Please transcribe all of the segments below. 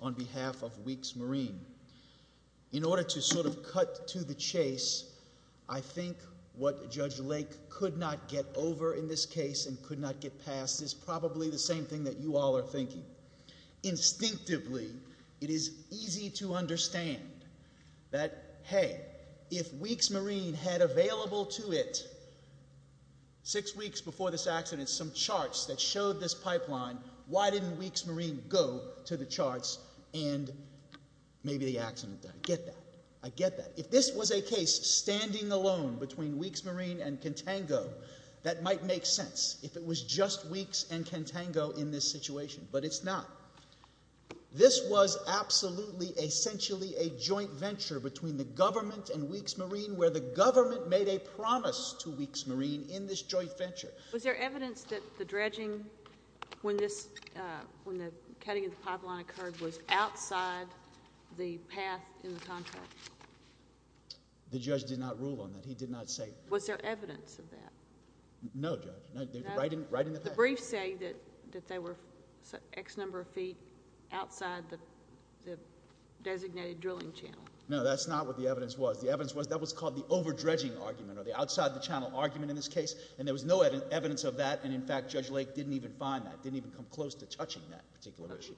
on behalf of Weeks Marine. In order to sort of cut to the chase, I think what Judge Lake could not get over in this case and could not get past is probably the same thing that you all are thinking. Instinctively, it is easy to understand that, hey, if Weeks Marine had available to it six weeks before this accident some charts that showed this pipeline, why didn't Weeks Marine go to the charts and maybe the accident? I get that. I get that. If this was a case standing alone between Weeks Marine and Contango, that might make sense, if it was just Weeks and Contango in this situation. But it's not. This was absolutely, essentially a joint venture between the government and Weeks Marine where the government made a promise to Weeks Marine in this joint venture. Was there evidence that the dredging when the cutting of the pipeline occurred was outside the path in the contract? The judge did not rule on that. He did not say that. Was there evidence of that? No, Judge. Right in the path. The briefs say that they were X number of feet outside the designated drilling channel. No, that's not what the evidence was. The evidence was that was called the over-dredging argument or the outside-the-channel argument in this case, and there was no evidence of that, and, in fact, Judge Lake didn't even find that, didn't even come close to touching that particular issue.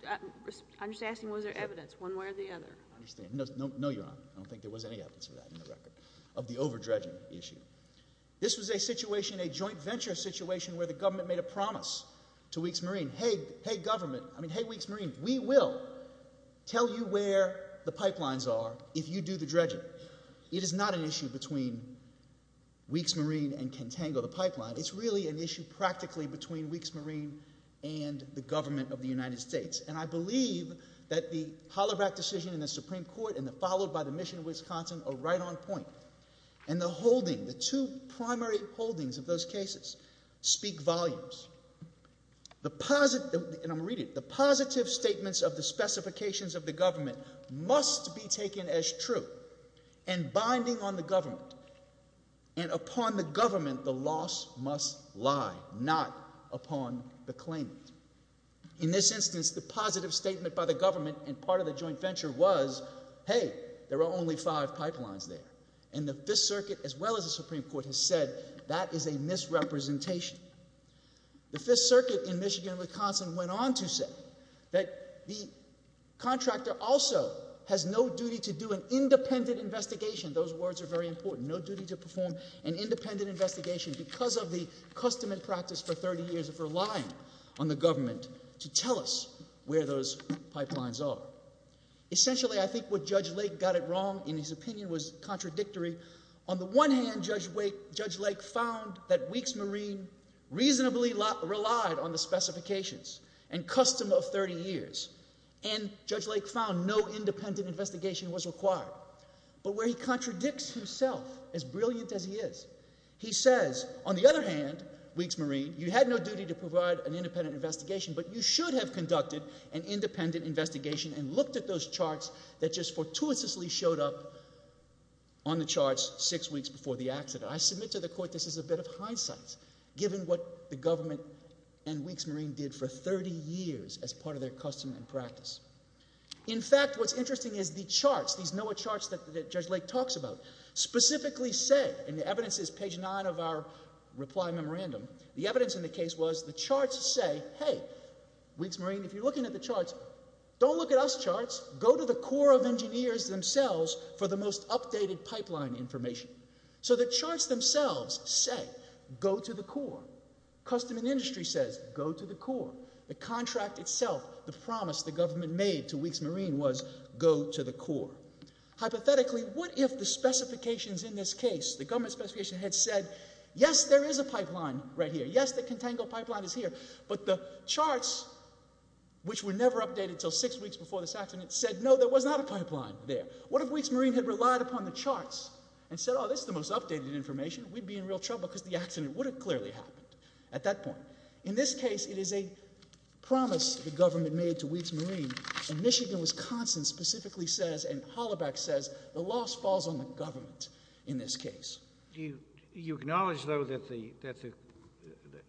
I'm just asking, was there evidence one way or the other? I understand. No, Your Honor. I don't think there was any evidence of that in the record, of the over-dredging issue. This was a situation, a joint venture situation, where the government made a promise to Weeks Marine. Hey, government, I mean, hey, Weeks Marine, we will tell you where the pipelines are if you do the dredging. But it is not an issue between Weeks Marine and Contango, the pipeline. It's really an issue practically between Weeks Marine and the government of the United States. And I believe that the Holoback decision in the Supreme Court and the followed by the mission of Wisconsin are right on point. And the holding, the two primary holdings of those cases speak volumes. And I'm going to read it. The positive statements of the specifications of the government must be taken as true and binding on the government. And upon the government, the loss must lie, not upon the claimant. In this instance, the positive statement by the government and part of the joint venture was, hey, there are only five pipelines there. And the Fifth Circuit, as well as the Supreme Court, has said that is a misrepresentation. The Fifth Circuit in Michigan and Wisconsin went on to say that the contractor also has no duty to do an independent investigation. Those words are very important. No duty to perform an independent investigation because of the custom and practice for 30 years of relying on the government to tell us where those pipelines are. Essentially, I think what Judge Lake got it wrong in his opinion was contradictory. On the one hand, Judge Lake found that Weeks Marine reasonably relied on the specifications and custom of 30 years. And Judge Lake found no independent investigation was required. But where he contradicts himself, as brilliant as he is, he says, on the other hand, Weeks Marine, you had no duty to provide an independent investigation, but you should have conducted an independent investigation and looked at those charts that just fortuitously showed up on the charts six weeks before the accident. I submit to the court this is a bit of hindsight given what the government and Weeks Marine did for 30 years as part of their custom and practice. In fact, what's interesting is the charts, these NOAA charts that Judge Lake talks about, specifically say, and the evidence is page 9 of our reply memorandum, the evidence in the case was the charts say, hey, Weeks Marine, if you're looking at the charts, don't look at us charts, go to the Corps of Engineers themselves for the most updated pipeline information. So the charts themselves say, go to the Corps. Custom and Industry says, go to the Corps. The contract itself, the promise the government made to Weeks Marine was, go to the Corps. Hypothetically, what if the specifications in this case, the government specification had said, yes, there is a pipeline right here. Yes, the Contango pipeline is here. But the charts, which were never updated until six weeks before this accident, said, no, there was not a pipeline there. What if Weeks Marine had relied upon the charts and said, oh, this is the most updated information. We'd be in real trouble because the accident would have clearly happened at that point. In this case, it is a promise the government made to Weeks Marine, and Michigan, Wisconsin specifically says, and Hollaback says, the loss falls on the government in this case. Do you acknowledge, though, that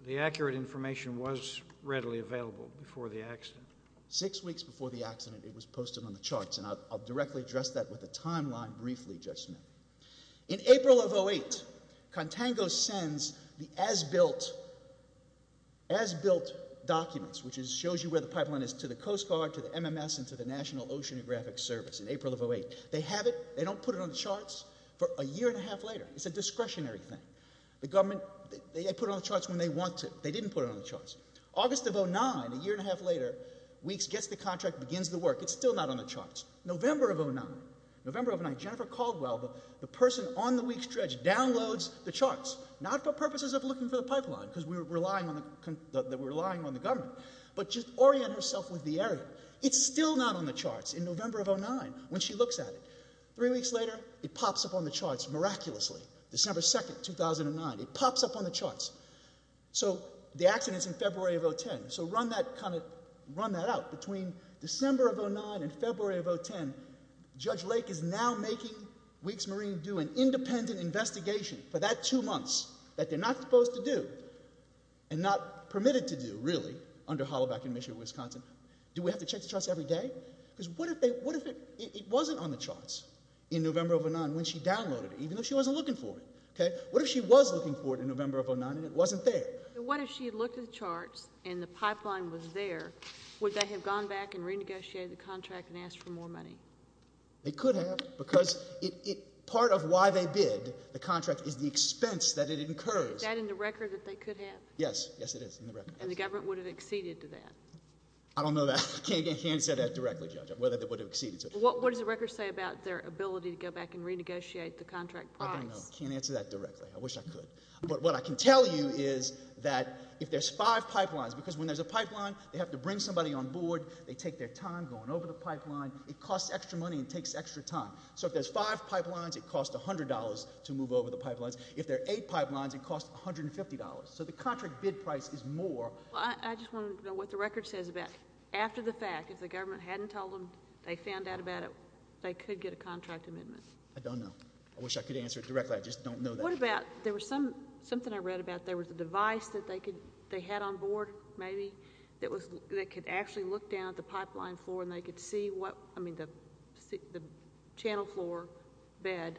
the accurate information was readily available before the accident? Six weeks before the accident, it was posted on the charts, and I'll directly address that with a timeline briefly, Judge Smith. In April of 2008, Contango sends the as-built documents, which shows you where the pipeline is, to the Coast Guard, to the MMS, and to the National Oceanographic Service in April of 2008. They have it. They don't put it on the charts for a year and a half later. It's a discretionary thing. The government, they put it on the charts when they want to. They didn't put it on the charts. August of 2009, a year and a half later, Weeks gets the contract, begins the work. It's still not on the charts. November of 2009, Jennifer Caldwell, the person on the Weeks dredge, downloads the charts, not for purposes of looking for the pipeline because we were relying on the government, but just orient herself with the area. It's still not on the charts in November of 2009 when she looks at it. Three weeks later, it pops up on the charts miraculously. December 2, 2009, it pops up on the charts. So the accident's in February of 2010. So run that out. Between December of 2009 and February of 2010, Judge Lake is now making Weeks Marine do an independent investigation for that two months that they're not supposed to do and not permitted to do, really, under Hollaback in Michigan, Wisconsin. Do we have to check the charts every day? What if it wasn't on the charts in November of 2009 when she downloaded it, even though she wasn't looking for it? What if she was looking for it in November of 2009 and it wasn't there? What if she had looked at the charts and the pipeline was there? Would they have gone back and renegotiated the contract and asked for more money? They could have because part of why they bid the contract is the expense that it incurs. Is that in the record that they could have? Yes, yes, it is in the record. And the government would have acceded to that? I don't know that. I can't answer that directly, Judge, whether they would have acceded to it. What does the record say about their ability to go back and renegotiate the contract price? I don't know. I can't answer that directly. I wish I could. But what I can tell you is that if there's five pipelines, because when there's a pipeline, they have to bring somebody on board. They take their time going over the pipeline. It costs extra money and takes extra time. So if there's five pipelines, it costs $100 to move over the pipelines. If there are eight pipelines, it costs $150. So the contract bid price is more. I just want to know what the record says about after the fact, if the government hadn't told them they found out about it, they could get a contract amendment. I don't know. I wish I could answer it directly. I just don't know that. What about there was something I read about there was a device that they had on board maybe that could actually look down at the pipeline floor and they could see what, I mean, the channel floor bed.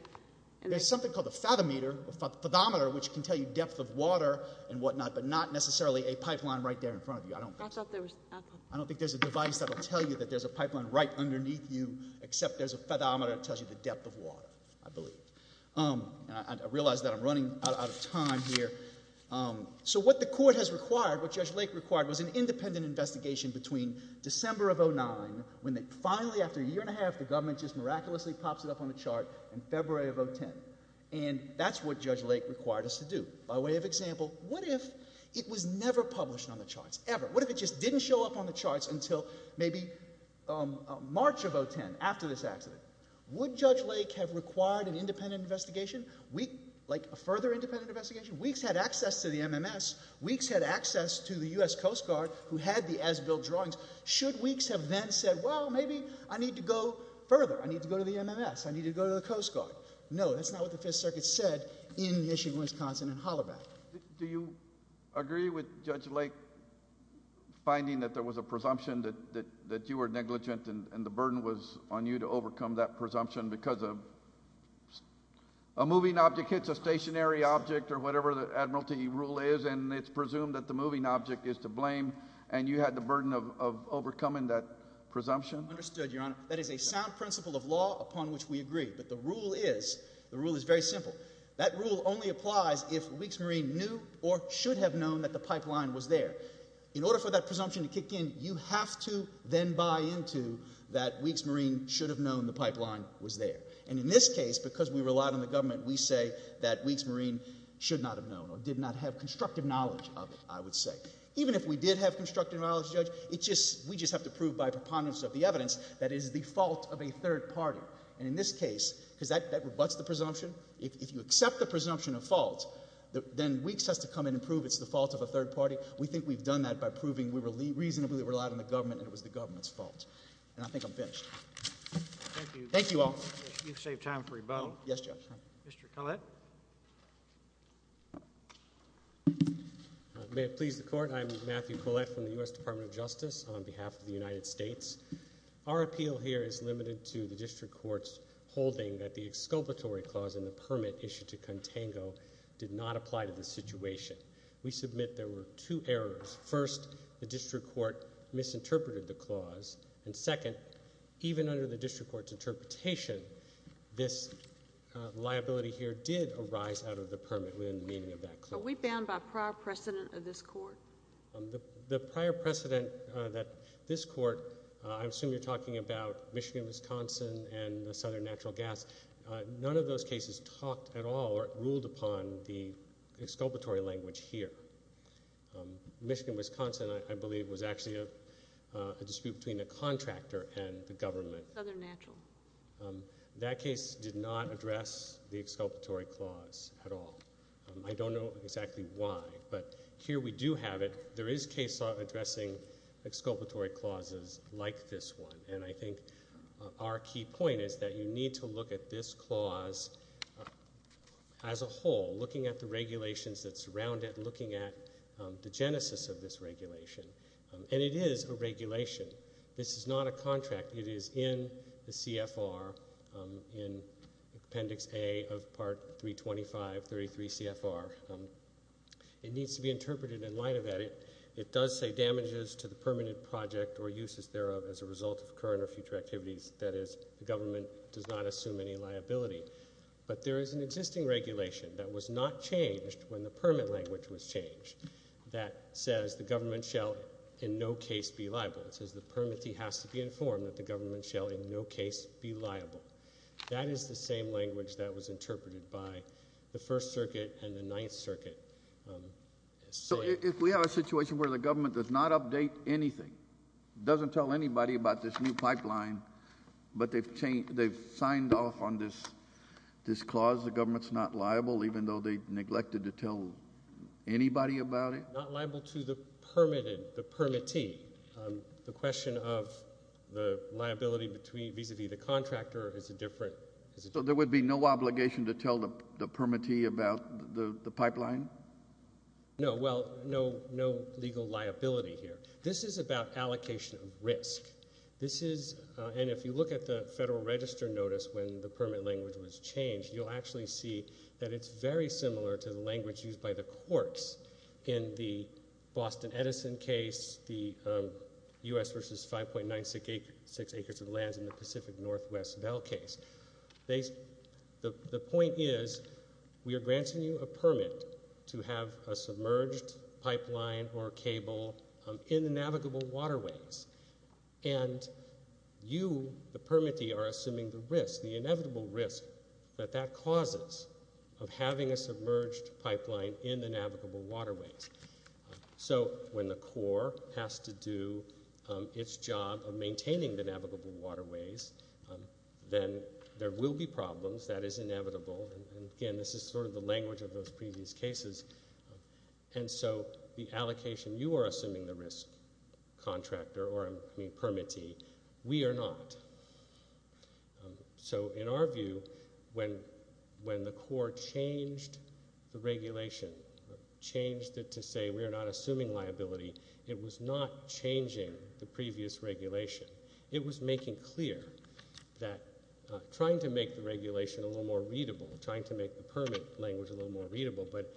There's something called a fathometer, which can tell you depth of water and whatnot, but not necessarily a pipeline right there in front of you. I don't think there's a device that will tell you that there's a pipeline right underneath you, except there's a fathometer that tells you the depth of water, I believe. I realize that I'm running out of time here. So what the court has required, what Judge Lake required, was an independent investigation between December of 2009, when they finally, after a year and a half, the government just miraculously pops it up on the chart, in February of 2010, and that's what Judge Lake required us to do. By way of example, what if it was never published on the charts, ever? What if it just didn't show up on the charts until maybe March of 2010, after this accident? Would Judge Lake have required an independent investigation, like a further independent investigation? Weeks had access to the MMS. Weeks had access to the U.S. Coast Guard who had the as-built drawings. Should weeks have then said, well, maybe I need to go further. I need to go to the MMS. I need to go to the Coast Guard. No, that's not what the Fifth Circuit said in Michigan, Wisconsin, and Hollaback. Do you agree with Judge Lake finding that there was a presumption that you were negligent and the burden was on you to overcome that presumption because a moving object hits a stationary object, or whatever the admiralty rule is, and it's presumed that the moving object is to blame, and you had the burden of overcoming that presumption? Understood, Your Honor. That is a sound principle of law upon which we agree. But the rule is, the rule is very simple. That rule only applies if Weeks Marine knew or should have known that the pipeline was there. In order for that presumption to kick in, you have to then buy into that Weeks Marine should have known the pipeline was there. And in this case, because we relied on the government, we say that Weeks Marine should not have known or did not have constructive knowledge of it, I would say. Even if we did have constructive knowledge, Judge, we just have to prove by preponderance of the evidence that it is the fault of a third party. And in this case, because that rebutts the presumption, if you accept the presumption of fault, then Weeks has to come in and prove it's the fault of a third party. We think we've done that by proving we reasonably relied on the government and it was the government's fault. And I think I'm finished. Thank you. Thank you all. You've saved time for your vote. Yes, Judge. Mr. Collette. May it please the Court. I'm Matthew Collette from the U.S. Department of Justice on behalf of the United States. Our appeal here is limited to the district court's holding that the exculpatory clause in the permit issued to Contango did not apply to the situation. We submit there were two errors. First, the district court misinterpreted the clause. And second, even under the district court's interpretation, this liability here did arise out of the permit within the meaning of that clause. Are we bound by prior precedent of this court? The prior precedent that this court, I assume you're talking about Michigan-Wisconsin and the Southern Natural Gas. None of those cases talked at all or ruled upon the exculpatory language here. Michigan-Wisconsin, I believe, was actually a dispute between the contractor and the government. Southern Natural. That case did not address the exculpatory clause at all. I don't know exactly why. But here we do have it. There is case law addressing exculpatory clauses like this one. And I think our key point is that you need to look at this clause as a whole, looking at the regulations that surround it, looking at the genesis of this regulation. And it is a regulation. This is not a contract. It is in the CFR in Appendix A of Part 325, 33 CFR. It needs to be interpreted in light of that. It does say damages to the permanent project or uses thereof as a result of current or future activities. That is, the government does not assume any liability. But there is an existing regulation that was not changed when the permit language was changed that says the government shall in no case be liable. It says the permittee has to be informed that the government shall in no case be liable. That is the same language that was interpreted by the First Circuit and the Ninth Circuit. So if we have a situation where the government does not update anything, doesn't tell anybody about this new pipeline, but they've signed off on this clause, the government is not liable, even though they neglected to tell anybody about it? Not liable to the permitted, the permittee. The question of the liability vis-à-vis the contractor is a different. So there would be no obligation to tell the permittee about the pipeline? No, well, no legal liability here. This is about allocation of risk. This is, and if you look at the Federal Register notice when the permit language was changed, you'll actually see that it's very similar to the language used by the courts in the Boston Edison case, the U.S. versus 5.96 acres of lands in the Pacific Northwest Bell case. The point is we are granting you a permit to have a submerged pipeline or cable in the navigable waterways. And you, the permittee, are assuming the risk, the inevitable risk, that that causes of having a submerged pipeline in the navigable waterways. So when the Corps has to do its job of maintaining the navigable waterways, then there will be problems. That is inevitable. And again, this is sort of the language of those previous cases. And so the allocation, you are assuming the risk, contractor, or I mean permittee. We are not. So in our view, when the Corps changed the regulation, changed it to say we are not assuming liability, it was not changing the previous regulation. It was making clear that trying to make the regulation a little more readable, trying to make the permit language a little more readable. But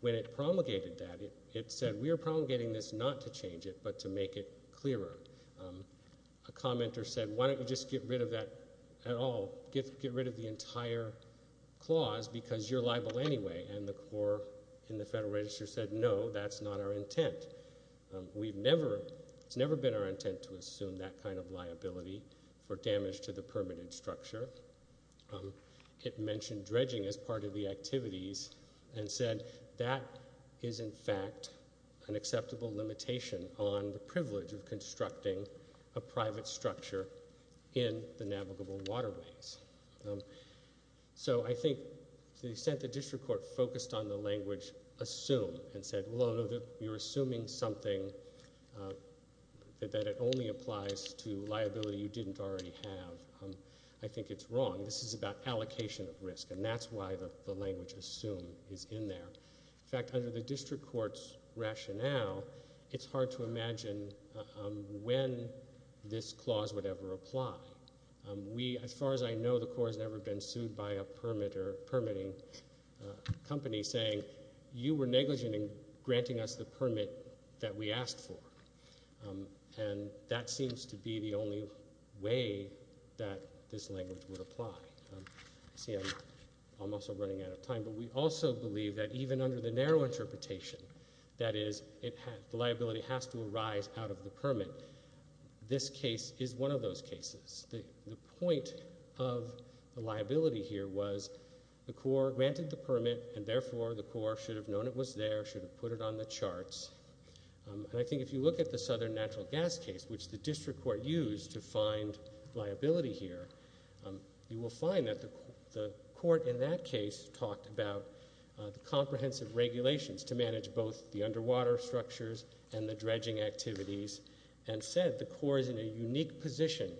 when it promulgated that, it said we are promulgating this not to change it but to make it clearer. A commenter said, why don't you just get rid of that at all? Get rid of the entire clause because you're liable anyway. And the Corps in the Federal Register said, no, that's not our intent. It's never been our intent to assume that kind of liability for damage to the permitted structure. It mentioned dredging as part of the activities and said that is, in fact, an acceptable limitation on the privilege of constructing a private structure in the navigable waterways. So I think to the extent the district court focused on the language assume and said, well, no, you're assuming something that it only applies to liability you didn't already have. I think it's wrong. This is about allocation of risk, and that's why the language assume is in there. In fact, under the district court's rationale, it's hard to imagine when this clause would ever apply. As far as I know, the Corps has never been sued by a permitting company saying, you were negligent in granting us the permit that we asked for. And that seems to be the only way that this language would apply. See, I'm also running out of time, but we also believe that even under the narrow interpretation, that is, the liability has to arise out of the permit, this case is one of those cases. The point of the liability here was the Corps granted the permit, and therefore the Corps should have known it was there, should have put it on the charts. And I think if you look at the Southern Natural Gas case, which the district court used to find liability here, you will find that the court in that case talked about the comprehensive regulations to manage both the underwater structures and the dredging activities, and said the Corps is in a unique position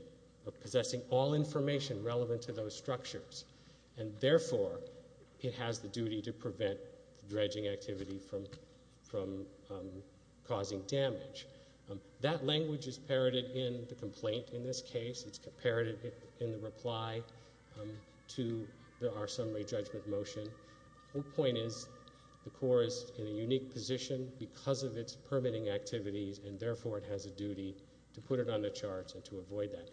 of possessing all information relevant to those structures, and therefore it has the duty to prevent dredging activity from causing damage. That language is parroted in the complaint in this case. It's parroted in the reply to our summary judgment motion. The point is the Corps is in a unique position because of its permitting activities, and therefore it has a duty to put it on the charts and to avoid that.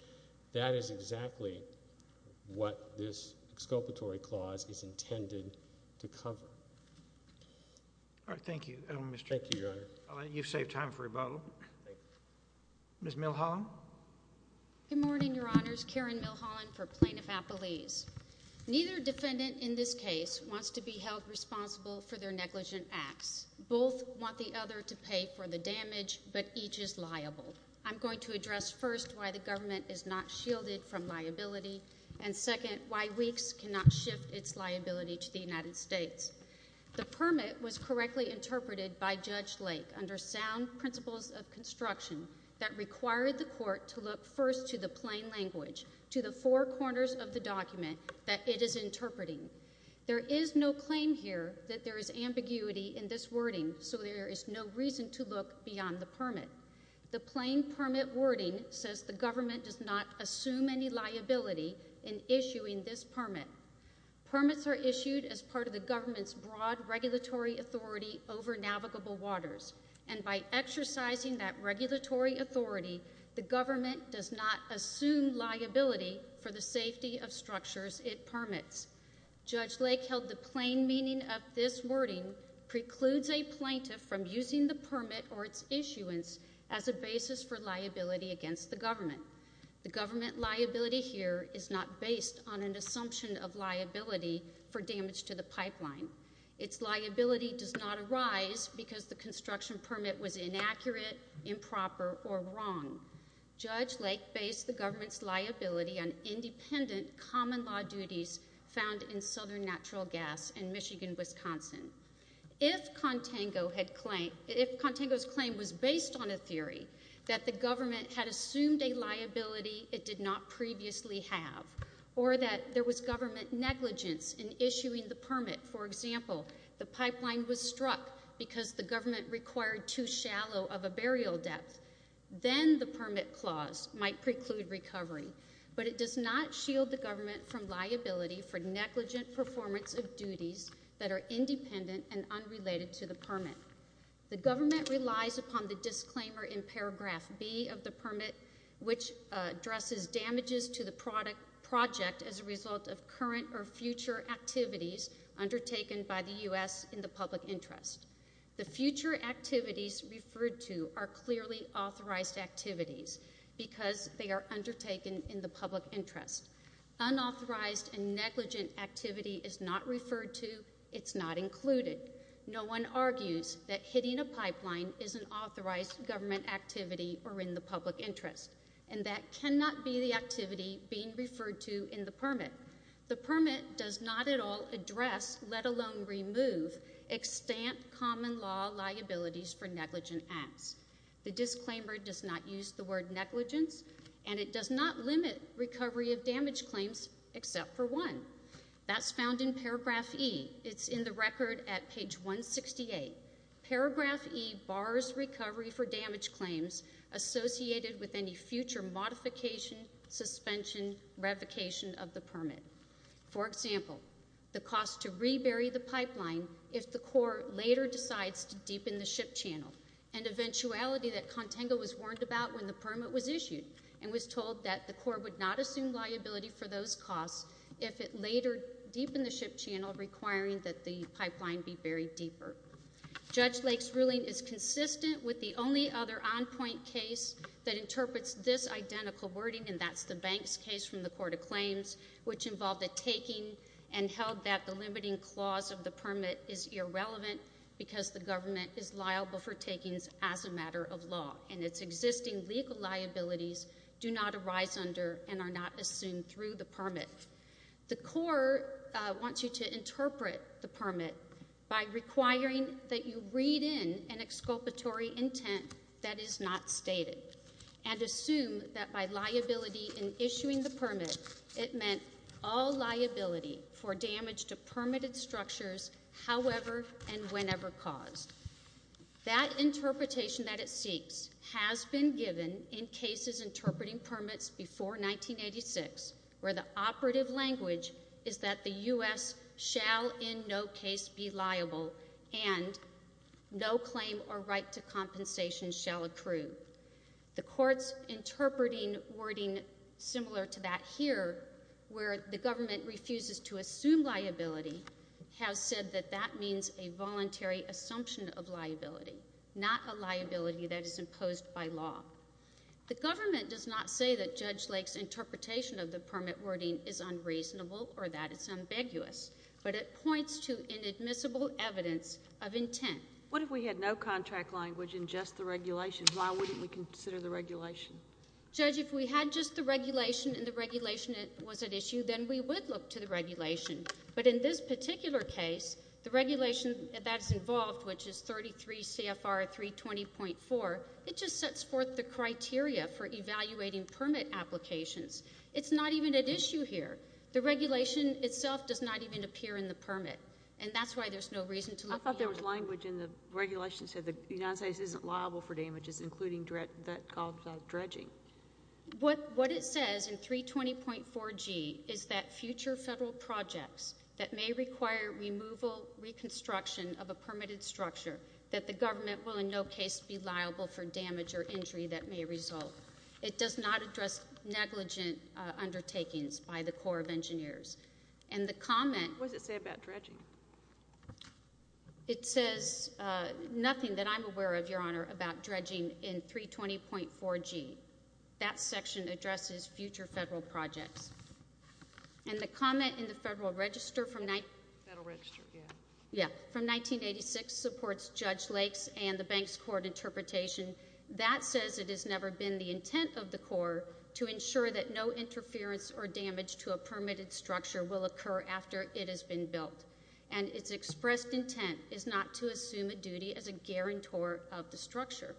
That is exactly what this exculpatory clause is intended to cover. All right, thank you. Thank you, Your Honor. I'll let you save time for rebuttal. Ms. Milholland? Good morning, Your Honors. Karen Milholland for Plaintiff Appellees. Neither defendant in this case wants to be held responsible for their negligent acts. Both want the other to pay for the damage, but each is liable. I'm going to address first why the government is not shielded from liability, and second, why weeks cannot shift its liability to the United States. The permit was correctly interpreted by Judge Lake under sound principles of construction that required the court to look first to the plain language, to the four corners of the document that it is interpreting. There is no claim here that there is ambiguity in this wording, so there is no reason to look beyond the permit. The plain permit wording says the government does not assume any liability in issuing this permit. Permits are issued as part of the government's broad regulatory authority over navigable waters, and by exercising that regulatory authority, the government does not assume liability for the safety of structures it permits. Judge Lake held the plain meaning of this wording precludes a plaintiff from using the permit or its issuance as a basis for liability against the government. The government liability here is not based on an assumption of liability for damage to the pipeline. Its liability does not arise because the construction permit was inaccurate, improper, or wrong. Judge Lake based the government's liability on independent common law duties found in Southern Natural Gas in Michigan, Wisconsin. If Contango's claim was based on a theory that the government had assumed a liability it did not previously have, or that there was government negligence in issuing the permit, for example, the pipeline was struck because the government required too shallow of a burial depth, then the permit clause might preclude recovery, but it does not shield the government from liability for negligent performance of duties that are independent and unrelated to the permit. The government relies upon the disclaimer in paragraph B of the permit, which addresses damages to the project as a result of current or future activities undertaken by the U.S. in the public interest. The future activities referred to are clearly authorized activities because they are undertaken in the public interest. Unauthorized and negligent activity is not referred to. It's not included. No one argues that hitting a pipeline is an authorized government activity or in the public interest, and that cannot be the activity being referred to in the permit. The permit does not at all address, let alone remove, extant common law liabilities for negligent acts. The disclaimer does not use the word negligence, and it does not limit recovery of damage claims except for one. That's found in paragraph E. It's in the record at page 168. Paragraph E bars recovery for damage claims associated with any future modification, suspension, revocation of the permit. For example, the cost to rebury the pipeline if the Corps later decides to deepen the ship channel, and eventuality that Contango was warned about when the permit was issued and was told that the Corps would not assume liability for those costs if it later deepened the ship channel, requiring that the pipeline be buried deeper. Judge Lake's ruling is consistent with the only other on-point case that interprets this identical wording, and that's the Banks case from the Court of Claims, which involved a taking and held that the limiting clause of the permit is irrelevant because the government is liable for takings as a matter of law, and its existing legal liabilities do not arise under and are not assumed through the permit. The Corps wants you to interpret the permit by requiring that you read in an exculpatory intent that is not stated and assume that by liability in issuing the permit, it meant all liability for damage to permitted structures however and whenever caused. That interpretation that it seeks has been given in cases interpreting permits before 1986 where the operative language is that the U.S. shall in no case be liable and no claim or right to compensation shall accrue. The Court's interpreting wording similar to that here, where the government refuses to assume liability, has said that that means a voluntary assumption of liability, not a liability that is imposed by law. The government does not say that Judge Lake's interpretation of the permit wording is unreasonable or that it's ambiguous, but it points to inadmissible evidence of intent. What if we had no contract language in just the regulation? Why wouldn't we consider the regulation? Judge, if we had just the regulation and the regulation was at issue, then we would look to the regulation. But in this particular case, the regulation that is involved, which is 33 CFR 320.4, it just sets forth the criteria for evaluating permit applications. It's not even at issue here. The regulation itself does not even appear in the permit, and that's why there's no reason to look at it. I thought there was language in the regulation that said the United States isn't liable for damages, including that called dredging. What it says in 320.4G is that future federal projects that may require removal, reconstruction of a permitted structure, that the government will in no case be liable for damage or injury that may result. It does not address negligent undertakings by the Corps of Engineers. And the comment- What does it say about dredging? It says nothing that I'm aware of, Your Honor, about dredging in 320.4G. That section addresses future federal projects. And the comment in the Federal Register from 1986 supports Judge Lake's and the bank's court interpretation. That says it has never been the intent of the Corps to ensure that no interference or damage to a permitted structure will occur after it has been built, and its expressed intent is not to assume a duty as a guarantor of the structure.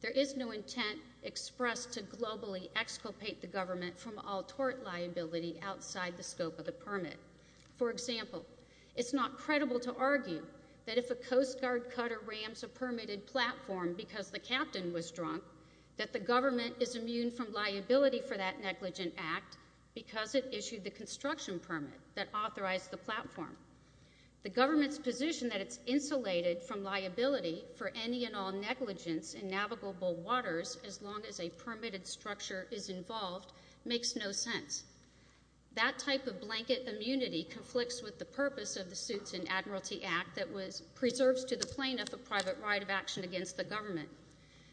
There is no intent expressed to globally exculpate the government from all tort liability outside the scope of the permit. For example, it's not credible to argue that if a Coast Guard cutter rams a permitted platform because the captain was drunk, that the government is immune from liability for that negligent act because it issued the construction permit that authorized the platform. The government's position that it's insulated from liability for any and all negligence in navigable waters as long as a permitted structure is involved makes no sense. That type of blanket immunity conflicts with the purpose of the Suits and Admiralty Act that preserves to the plaintiff a private right of action against the government.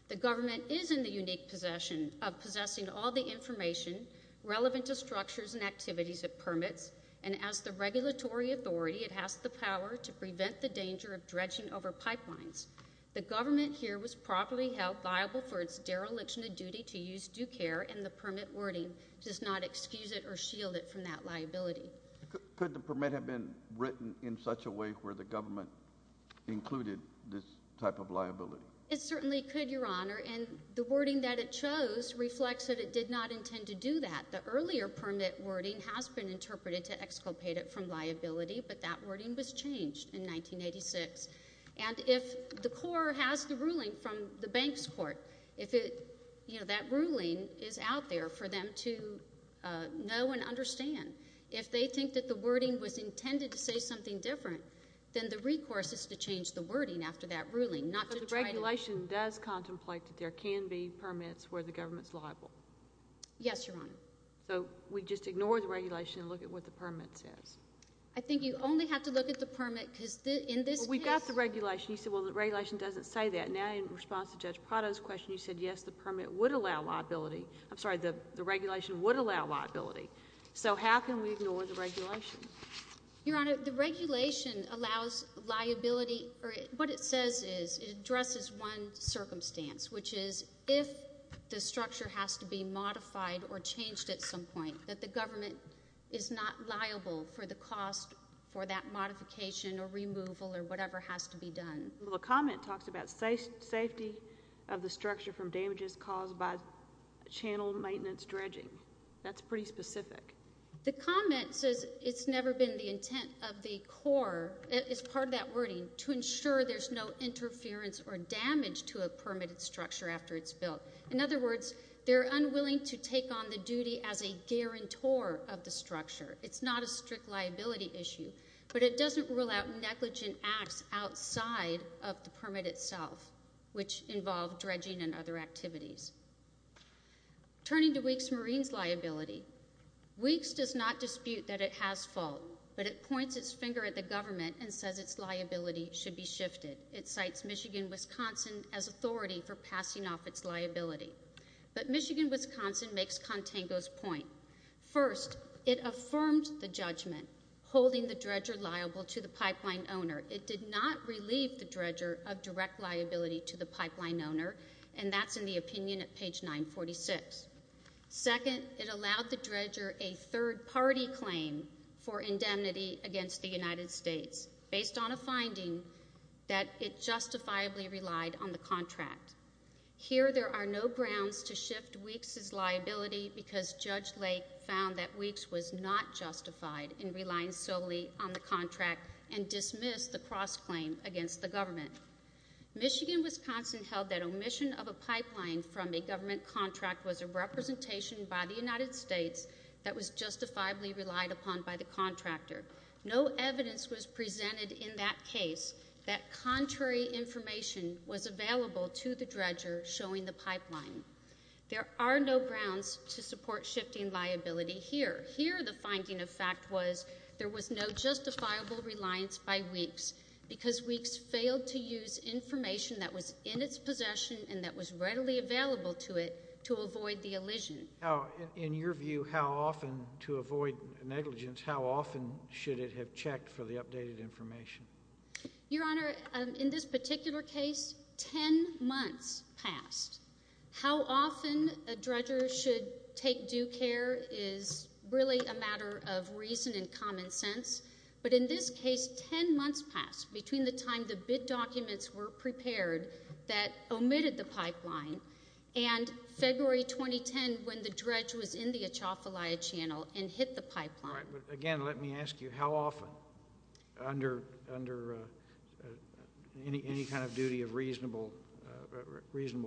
The government is in the unique possession of possessing all the information relevant to structures and activities it permits, and as the regulatory authority, it has the power to prevent the danger of dredging over pipelines. The government here was properly held viable for its dereliction of duty to use due care, and the permit wording does not excuse it or shield it from that liability. Could the permit have been written in such a way where the government included this type of liability? It certainly could, Your Honor, and the wording that it chose reflects that it did not intend to do that. The earlier permit wording has been interpreted to exculpate it from liability, but that wording was changed in 1986. And if the Corps has the ruling from the bank's court, if that ruling is out there for them to know and understand, if they think that the wording was intended to say something different, then the recourse is to change the wording after that ruling, not to try to— So the regulation does contemplate that there can be permits where the government's liable? Yes, Your Honor. So we just ignore the regulation and look at what the permit says? I think you only have to look at the permit because in this case— Well, we've got the regulation. You said, well, the regulation doesn't say that. Now, in response to Judge Prado's question, you said, yes, the permit would allow liability. I'm sorry, the regulation would allow liability. So how can we ignore the regulation? Your Honor, the regulation allows liability—or what it says is it addresses one circumstance, which is if the structure has to be modified or changed at some point, that the government is not liable for the cost for that modification or removal or whatever has to be done. Well, the comment talks about safety of the structure from damages caused by channel maintenance dredging. That's pretty specific. The comment says it's never been the intent of the Corps—it's part of that wording— to ensure there's no interference or damage to a permitted structure after it's built. In other words, they're unwilling to take on the duty as a guarantor of the structure. It's not a strict liability issue, but it doesn't rule out negligent acts outside of the permit itself, which involve dredging and other activities. Turning to Weeks Marine's liability, Weeks does not dispute that it has fault, but it points its finger at the government and says its liability should be shifted. It cites Michigan, Wisconsin as authority for passing off its liability. But Michigan, Wisconsin makes Contango's point. First, it affirms the judgment holding the dredger liable to the pipeline owner. It did not relieve the dredger of direct liability to the pipeline owner, and that's in the opinion at page 946. Second, it allowed the dredger a third-party claim for indemnity against the United States, based on a finding that it justifiably relied on the contract. Here, there are no grounds to shift Weeks's liability, because Judge Lake found that Weeks was not justified in relying solely on the contract and dismissed the cross-claim against the government. Michigan, Wisconsin held that omission of a pipeline from a government contract was a representation by the United States that was justifiably relied upon by the contractor. No evidence was presented in that case that contrary information was available to the dredger showing the pipeline. There are no grounds to support shifting liability here. Here, the finding of fact was there was no justifiable reliance by Weeks, because Weeks failed to use information that was in its possession and that was readily available to it to avoid the elision. In your view, how often, to avoid negligence, how often should it have checked for the updated information? Your Honor, in this particular case, 10 months passed. How often a dredger should take due care is really a matter of reason and common sense, but in this case, 10 months passed between the time the bid documents were prepared that omitted the pipeline and February 2010 when the dredge was in the Atchafalaya Channel and hit the pipeline. Again, let me ask you, how often under any kind of duty of reasonable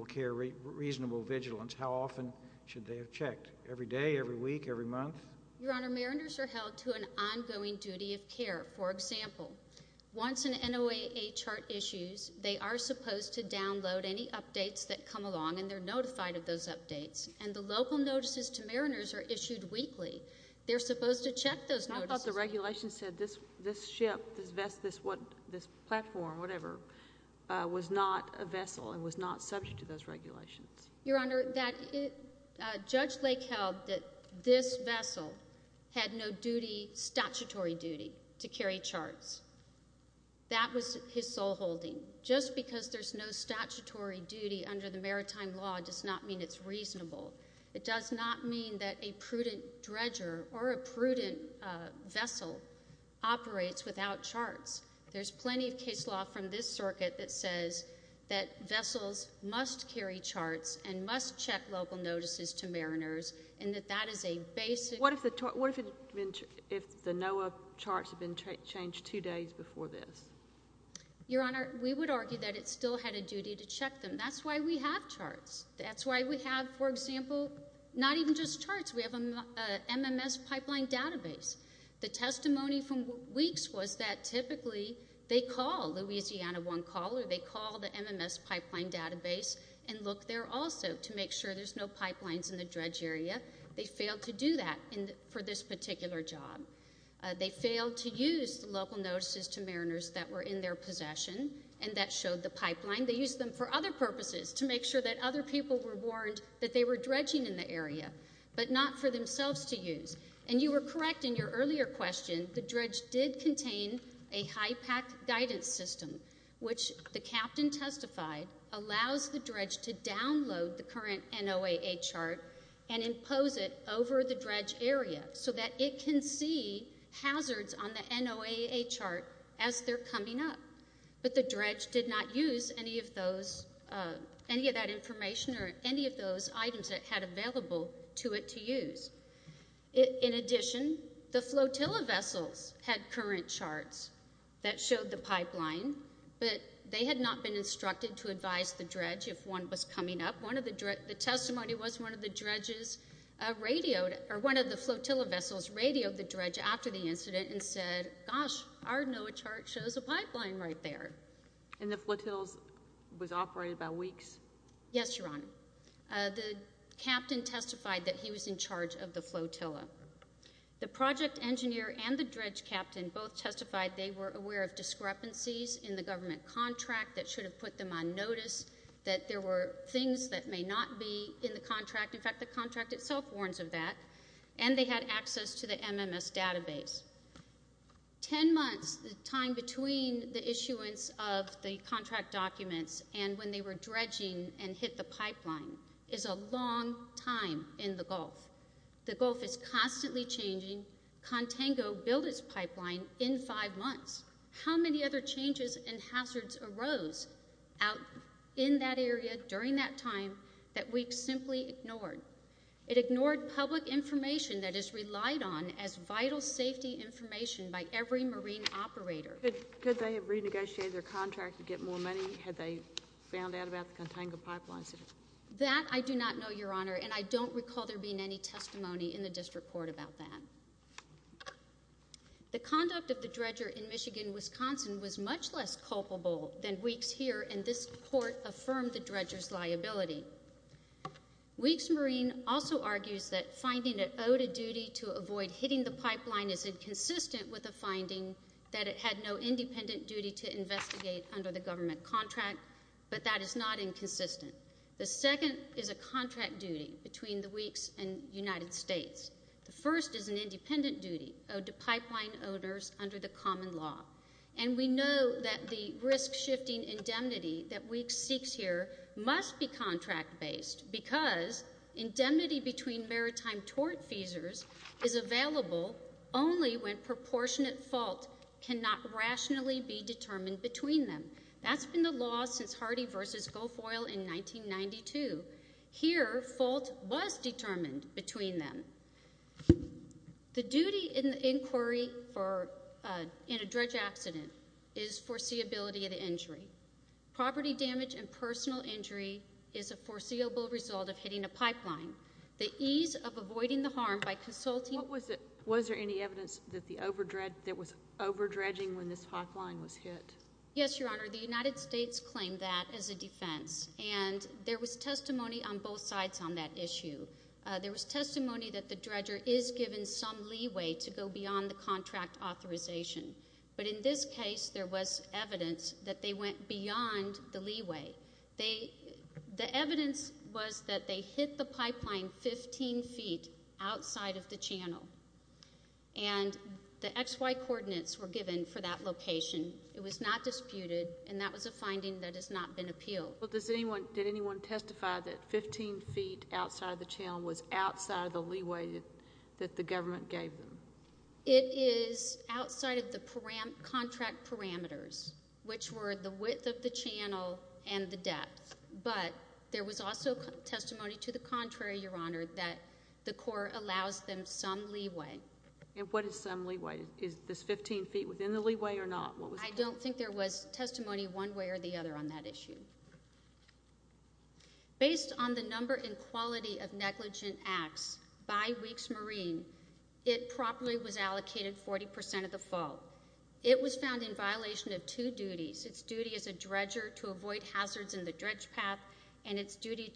care, reasonable vigilance, how often should they have checked? Every day, every week, every month? Your Honor, mariners are held to an ongoing duty of care. For example, once an NOAA chart issues, they are supposed to download any updates that come along and they're notified of those updates, and the local notices to mariners are issued weekly. They're supposed to check those notices. I thought the regulations said this ship, this platform, whatever, was not a vessel and was not subject to those regulations. Your Honor, Judge Lake held that this vessel had no statutory duty to carry charts. That was his sole holding. Just because there's no statutory duty under the maritime law does not mean it's reasonable. It does not mean that a prudent dredger or a prudent vessel operates without charts. There's plenty of case law from this circuit that says that vessels must carry charts and must check local notices to mariners and that that is a basic. What if the NOAA charts had been changed two days before this? Your Honor, we would argue that it still had a duty to check them. That's why we have charts. That's why we have, for example, not even just charts. We have an MMS pipeline database. The testimony from weeks was that typically they call Louisiana One Call or they call the MMS pipeline database and look there also to make sure there's no pipelines in the dredge area. They failed to do that for this particular job. They failed to use the local notices to mariners that were in their possession and that showed the pipeline. They used them for other purposes to make sure that other people were warned that they were dredging in the area but not for themselves to use. And you were correct in your earlier question. The dredge did contain a high pack guidance system, which the captain testified allows the dredge to download the current NOAA chart and impose it over the dredge area so that it can see hazards on the NOAA chart as they're coming up. But the dredge did not use any of that information or any of those items it had available to it to use. In addition, the flotilla vessels had current charts that showed the pipeline, but they had not been instructed to advise the dredge if one was coming up. The testimony was one of the flotilla vessels radioed the dredge after the incident and said, gosh, our NOAA chart shows a pipeline right there. And the flotilla was operated by weeks? Yes, Your Honor. The captain testified that he was in charge of the flotilla. The project engineer and the dredge captain both testified they were aware of discrepancies in the government contract that should have put them on notice, that there were things that may not be in the contract. In fact, the contract itself warns of that. And they had access to the MMS database. Ten months, the time between the issuance of the contract documents and when they were dredging and hit the pipeline is a long time in the Gulf. The Gulf is constantly changing. Contango built its pipeline in five months. How many other changes and hazards arose out in that area during that time that we simply ignored? It ignored public information that is relied on as vital safety information by every Marine operator. Could they have renegotiated their contract to get more money? Had they found out about the Contango pipeline? That I do not know, Your Honor, and I don't recall there being any testimony in the district court about that. The conduct of the dredger in Michigan, Wisconsin, was much less culpable than Weeks here, and this court affirmed the dredger's liability. Weeks Marine also argues that finding it owed a duty to avoid hitting the pipeline is inconsistent with the finding that it had no independent duty to investigate under the government contract, but that is not inconsistent. The second is a contract duty between the Weeks and United States. The first is an independent duty owed to pipeline owners under the common law, and we know that the risk-shifting indemnity that Weeks seeks here must be contract-based because indemnity between maritime tort feasors is available only when proportionate fault cannot rationally be determined between them. That's been the law since Hardy v. Goldfoyle in 1992. Here, fault was determined between them. The duty in inquiry in a dredge accident is foreseeability of the injury. Property damage and personal injury is a foreseeable result of hitting a pipeline. The ease of avoiding the harm by consulting— Was there any evidence that there was overdredging when this pipeline was hit? Yes, Your Honor. The United States claimed that as a defense, and there was testimony on both sides on that issue. There was testimony that the dredger is given some leeway to go beyond the contract authorization, but in this case, there was evidence that they went beyond the leeway. The evidence was that they hit the pipeline 15 feet outside of the channel, and the XY coordinates were given for that location. It was not disputed, and that was a finding that has not been appealed. Did anyone testify that 15 feet outside the channel was outside the leeway that the government gave them? It is outside of the contract parameters, which were the width of the channel and the depth, but there was also testimony to the contrary, Your Honor, that the court allows them some leeway. And what is some leeway? Is this 15 feet within the leeway or not? I don't think there was testimony one way or the other on that issue. Based on the number and quality of negligent acts by Weeks Marine, it properly was allocated 40% of the fault. It was found in violation of two duties. Its duty as a dredger to avoid hazards in the dredge path, and its duty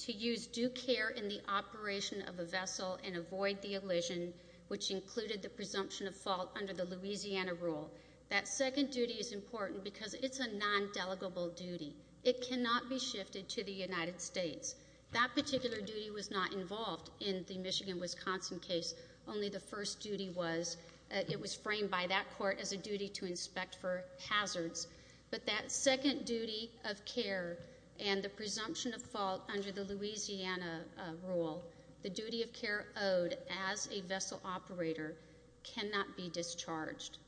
to use due care in the operation of a vessel and avoid the elision, which included the presumption of fault under the Louisiana rule. That second duty is important because it's a non-delegable duty. It cannot be shifted to the United States. That particular duty was not involved in the Michigan-Wisconsin case. Only the first duty was. It was framed by that court as a duty to inspect for hazards, but that second duty of care and the presumption of fault under the Louisiana rule, the duty of care owed as a vessel operator, cannot be discharged.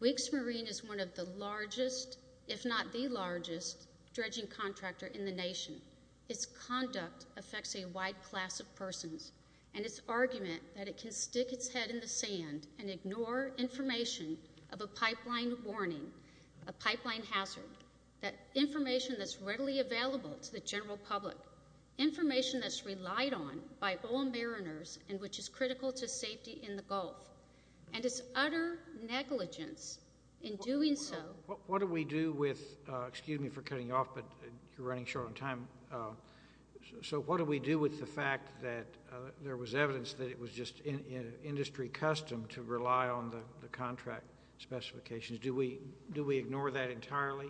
Weeks Marine is one of the largest, if not the largest, dredging contractor in the nation. Its conduct affects a wide class of persons. And its argument that it can stick its head in the sand and ignore information of a pipeline warning, a pipeline hazard, that information that's readily available to the general public, information that's relied on by all mariners and which is critical to safety in the Gulf, and its utter negligence in doing so. What do we do with the fact that there was evidence that it was just industry custom to rely on the contract specifications? Do we ignore that entirely?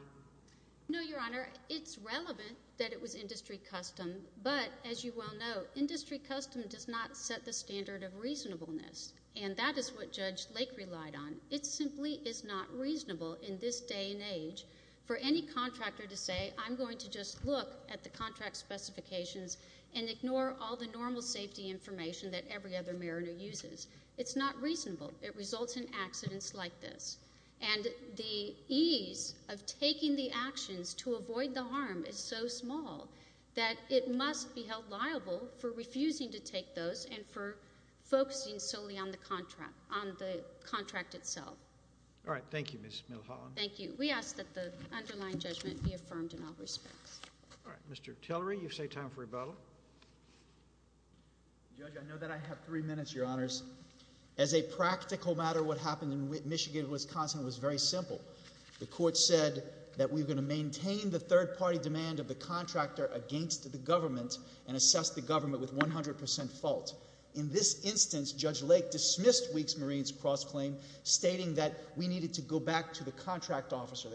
No, Your Honor. It's relevant that it was industry custom, but as you well know, industry custom does not set the standard of reasonableness, and that is what Judge Lake relied on. It simply is not reasonable in this day and age for any contractor to say, I'm going to just look at the contract specifications and ignore all the normal safety information that every other mariner uses. It's not reasonable. It results in accidents like this. And the ease of taking the actions to avoid the harm is so small that it must be held liable for refusing to take those and for focusing solely on the contract itself. All right. Thank you, Ms. Milholland. Thank you. We ask that the underlying judgment be affirmed in all respects. All right. Mr. Tillery, you say time for rebuttal. Judge, I know that I have three minutes, Your Honors. As a practical matter, what happened in Michigan and Wisconsin was very simple. The court said that we were going to maintain the third-party demand of the contractor against the government and assess the government with 100% fault. In this instance, Judge Lake dismissed Weeks Marine's cross-claim, stating that we needed to go back to the contract officer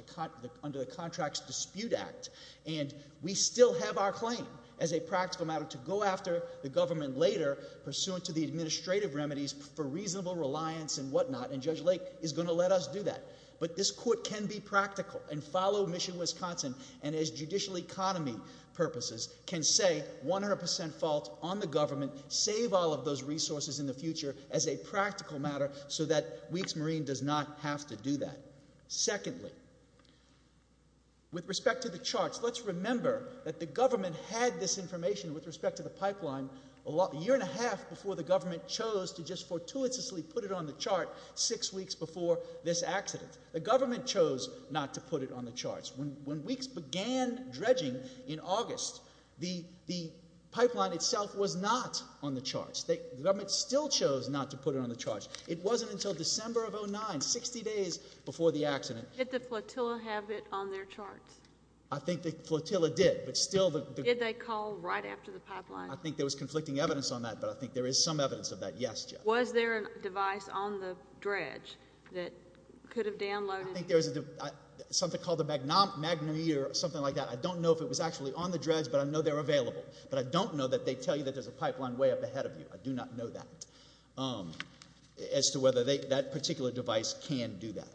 under the Contracts Dispute Act, and we still have our claim as a practical matter to go after the government later, pursuant to the administrative remedies for reasonable reliance and whatnot, and Judge Lake is going to let us do that. But this court can be practical and follow Michigan-Wisconsin and, as judicial economy purposes, can say 100% fault on the government, save all of those resources in the future as a practical matter so that Weeks Marine does not have to do that. Secondly, with respect to the charts, let's remember that the government had this information with respect to the pipeline a year and a half before the government chose to just fortuitously put it on the chart six weeks before this accident. The government chose not to put it on the charts. When Weeks began dredging in August, the pipeline itself was not on the charts. The government still chose not to put it on the charts. It wasn't until December of 2009, 60 days before the accident. Did the flotilla have it on their charts? I think the flotilla did, but still the... There's conflicting evidence on that, but I think there is some evidence of that. Yes, Judge? Was there a device on the dredge that could have downloaded... I think there was something called a magnometer or something like that. I don't know if it was actually on the dredge, but I know they're available. But I don't know that they tell you that there's a pipeline way up ahead of you. I do not know that, as to whether that particular device can do that.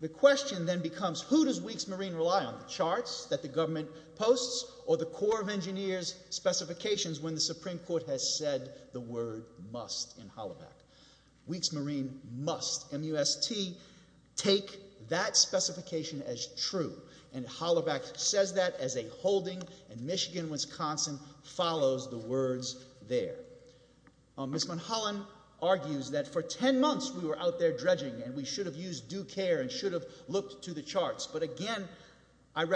The question then becomes, who does Weeks Marine rely on, on the charts that the government posts, or the Corps of Engineers' specifications when the Supreme Court has said the word must in Holaback? Weeks Marine must, M-U-S-T, take that specification as true. And Holaback says that as a holding, and Michigan-Wisconsin follows the words there. Ms. Mulholland argues that for 10 months we were out there dredging, and we should have used due care and should have looked to the charts. But again, I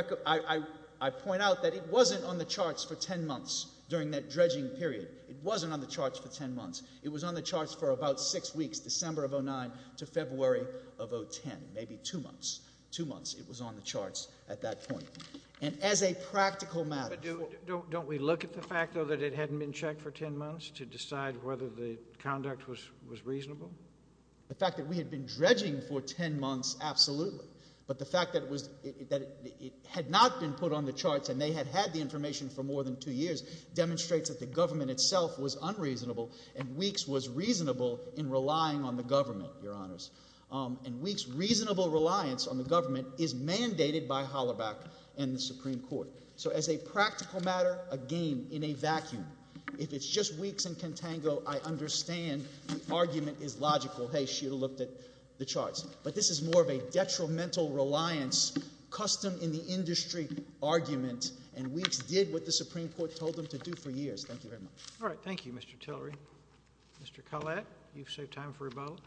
point out that it wasn't on the charts for 10 months during that dredging period. It wasn't on the charts for 10 months. It was on the charts for about 6 weeks, December of 2009 to February of 2010, maybe 2 months. 2 months it was on the charts at that point. And as a practical matter... But don't we look at the fact, though, that it hadn't been checked for 10 months to decide whether the conduct was reasonable? The fact that we had been dredging for 10 months, absolutely. But the fact that it had not been put on the charts and they had had the information for more than 2 years demonstrates that the government itself was unreasonable and Weeks was reasonable in relying on the government, Your Honors. And Weeks' reasonable reliance on the government is mandated by Holaback and the Supreme Court. So as a practical matter, again, in a vacuum, if it's just Weeks and Contango, I understand the argument is logical. Hey, she would have looked at the charts. But this is more of a detrimental reliance, custom-in-the-industry argument, and Weeks did what the Supreme Court told them to do for years. Thank you very much. All right, thank you, Mr. Tillery. Mr. Collette, you've saved time for a vote.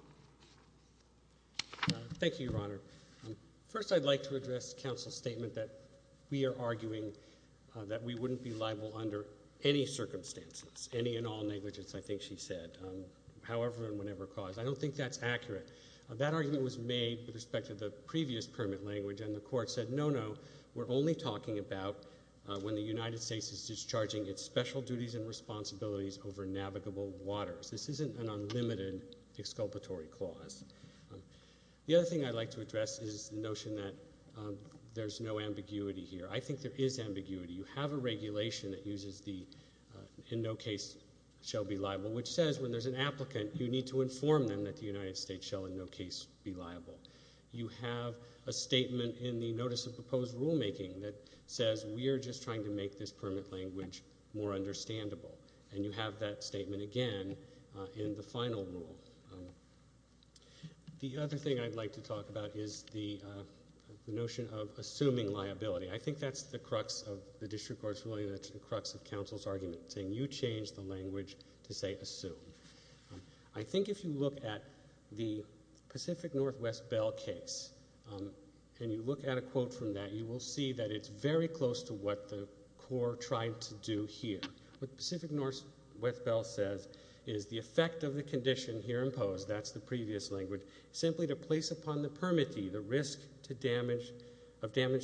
Thank you, Your Honor. First, I'd like to address counsel's statement that we are arguing that we wouldn't be liable under any circumstances, any and all negligence, I think she said, however and whenever caused. I don't think that's accurate. That argument was made with respect to the previous permit language, and the court said, no, no, we're only talking about when the United States is discharging its special duties and responsibilities over navigable waters. This isn't an unlimited exculpatory clause. The other thing I'd like to address is the notion that there's no ambiguity here. I think there is ambiguity. You have a regulation that uses the, in no case shall be liable, which says when there's an applicant, you need to inform them that the United States shall in no case be liable. You have a statement in the notice of proposed rulemaking that says we are just trying to make this permit language more understandable, and you have that statement again in the final rule. The other thing I'd like to talk about is the notion of assuming liability. I think that's the crux of the district court's ruling. That's the crux of counsel's argument, saying you change the language to say assume. I think if you look at the Pacific Northwest Bell case and you look at a quote from that, you will see that it's very close to what the court tried to do here. What Pacific Northwest Bell says is the effect of the condition here imposed, that's the previous language, simply to place upon the permittee the risk of damage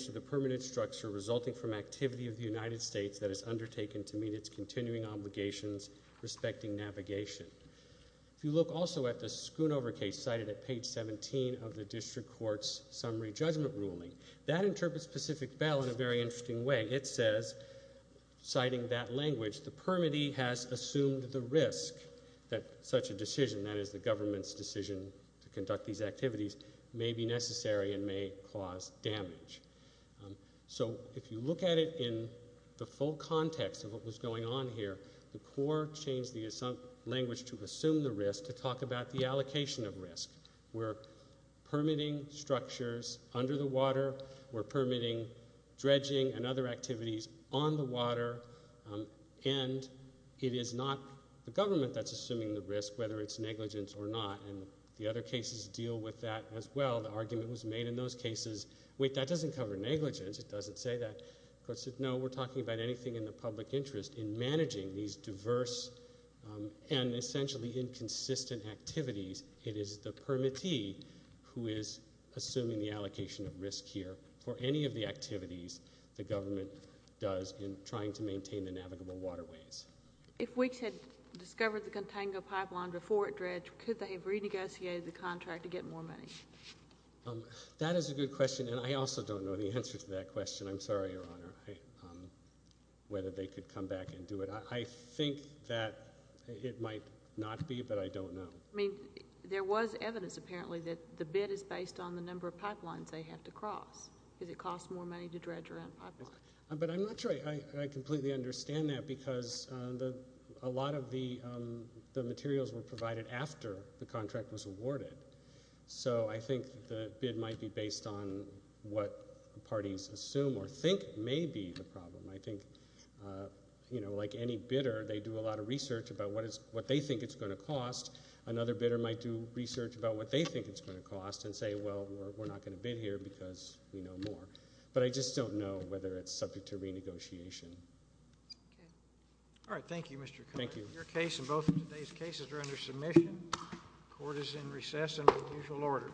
to the permanent structure resulting from activity of the United States that is undertaken to meet its continuing obligations respecting navigation. If you look also at the Schoonover case cited at page 17 of the district court's summary judgment ruling, that interprets Pacific Bell in a very interesting way. It says, citing that language, the permittee has assumed the risk that such a decision, that is the government's decision to conduct these activities, may be necessary and may cause damage. So if you look at it in the full context of what was going on here, the court changed the language to assume the risk to talk about the allocation of risk. We're permitting structures under the water, we're permitting dredging and other activities on the water, and it is not the government that's assuming the risk, whether it's negligence or not, and the other cases deal with that as well. The argument was made in those cases, wait, that doesn't cover negligence, it doesn't say that. No, we're talking about anything in the public interest in managing these diverse and essentially inconsistent activities. It is the permittee who is assuming the allocation of risk here for any of the activities the government does in trying to maintain the navigable waterways. If WICS had discovered the Contango Pipeline before it dredged, could they have renegotiated the contract to get more money? That is a good question, and I also don't know the answer to that question. I'm sorry, Your Honor, whether they could come back and do it. I think that it might not be, but I don't know. I mean, there was evidence, apparently, that the bid is based on the number of pipelines they have to cross because it costs more money to dredge around pipelines. But I'm not sure I completely understand that because a lot of the materials were provided after the contract was awarded. So I think the bid might be based on what parties assume or think may be the problem. I think, you know, like any bidder, they do a lot of research about what they think it's going to cost. Another bidder might do research about what they think it's going to cost and say, well, we're not going to bid here because we know more. But I just don't know whether it's subject to renegotiation. All right, thank you, Mr. Connery. Thank you. Your case and both of today's cases are under submission. Court is in recess and at usual order.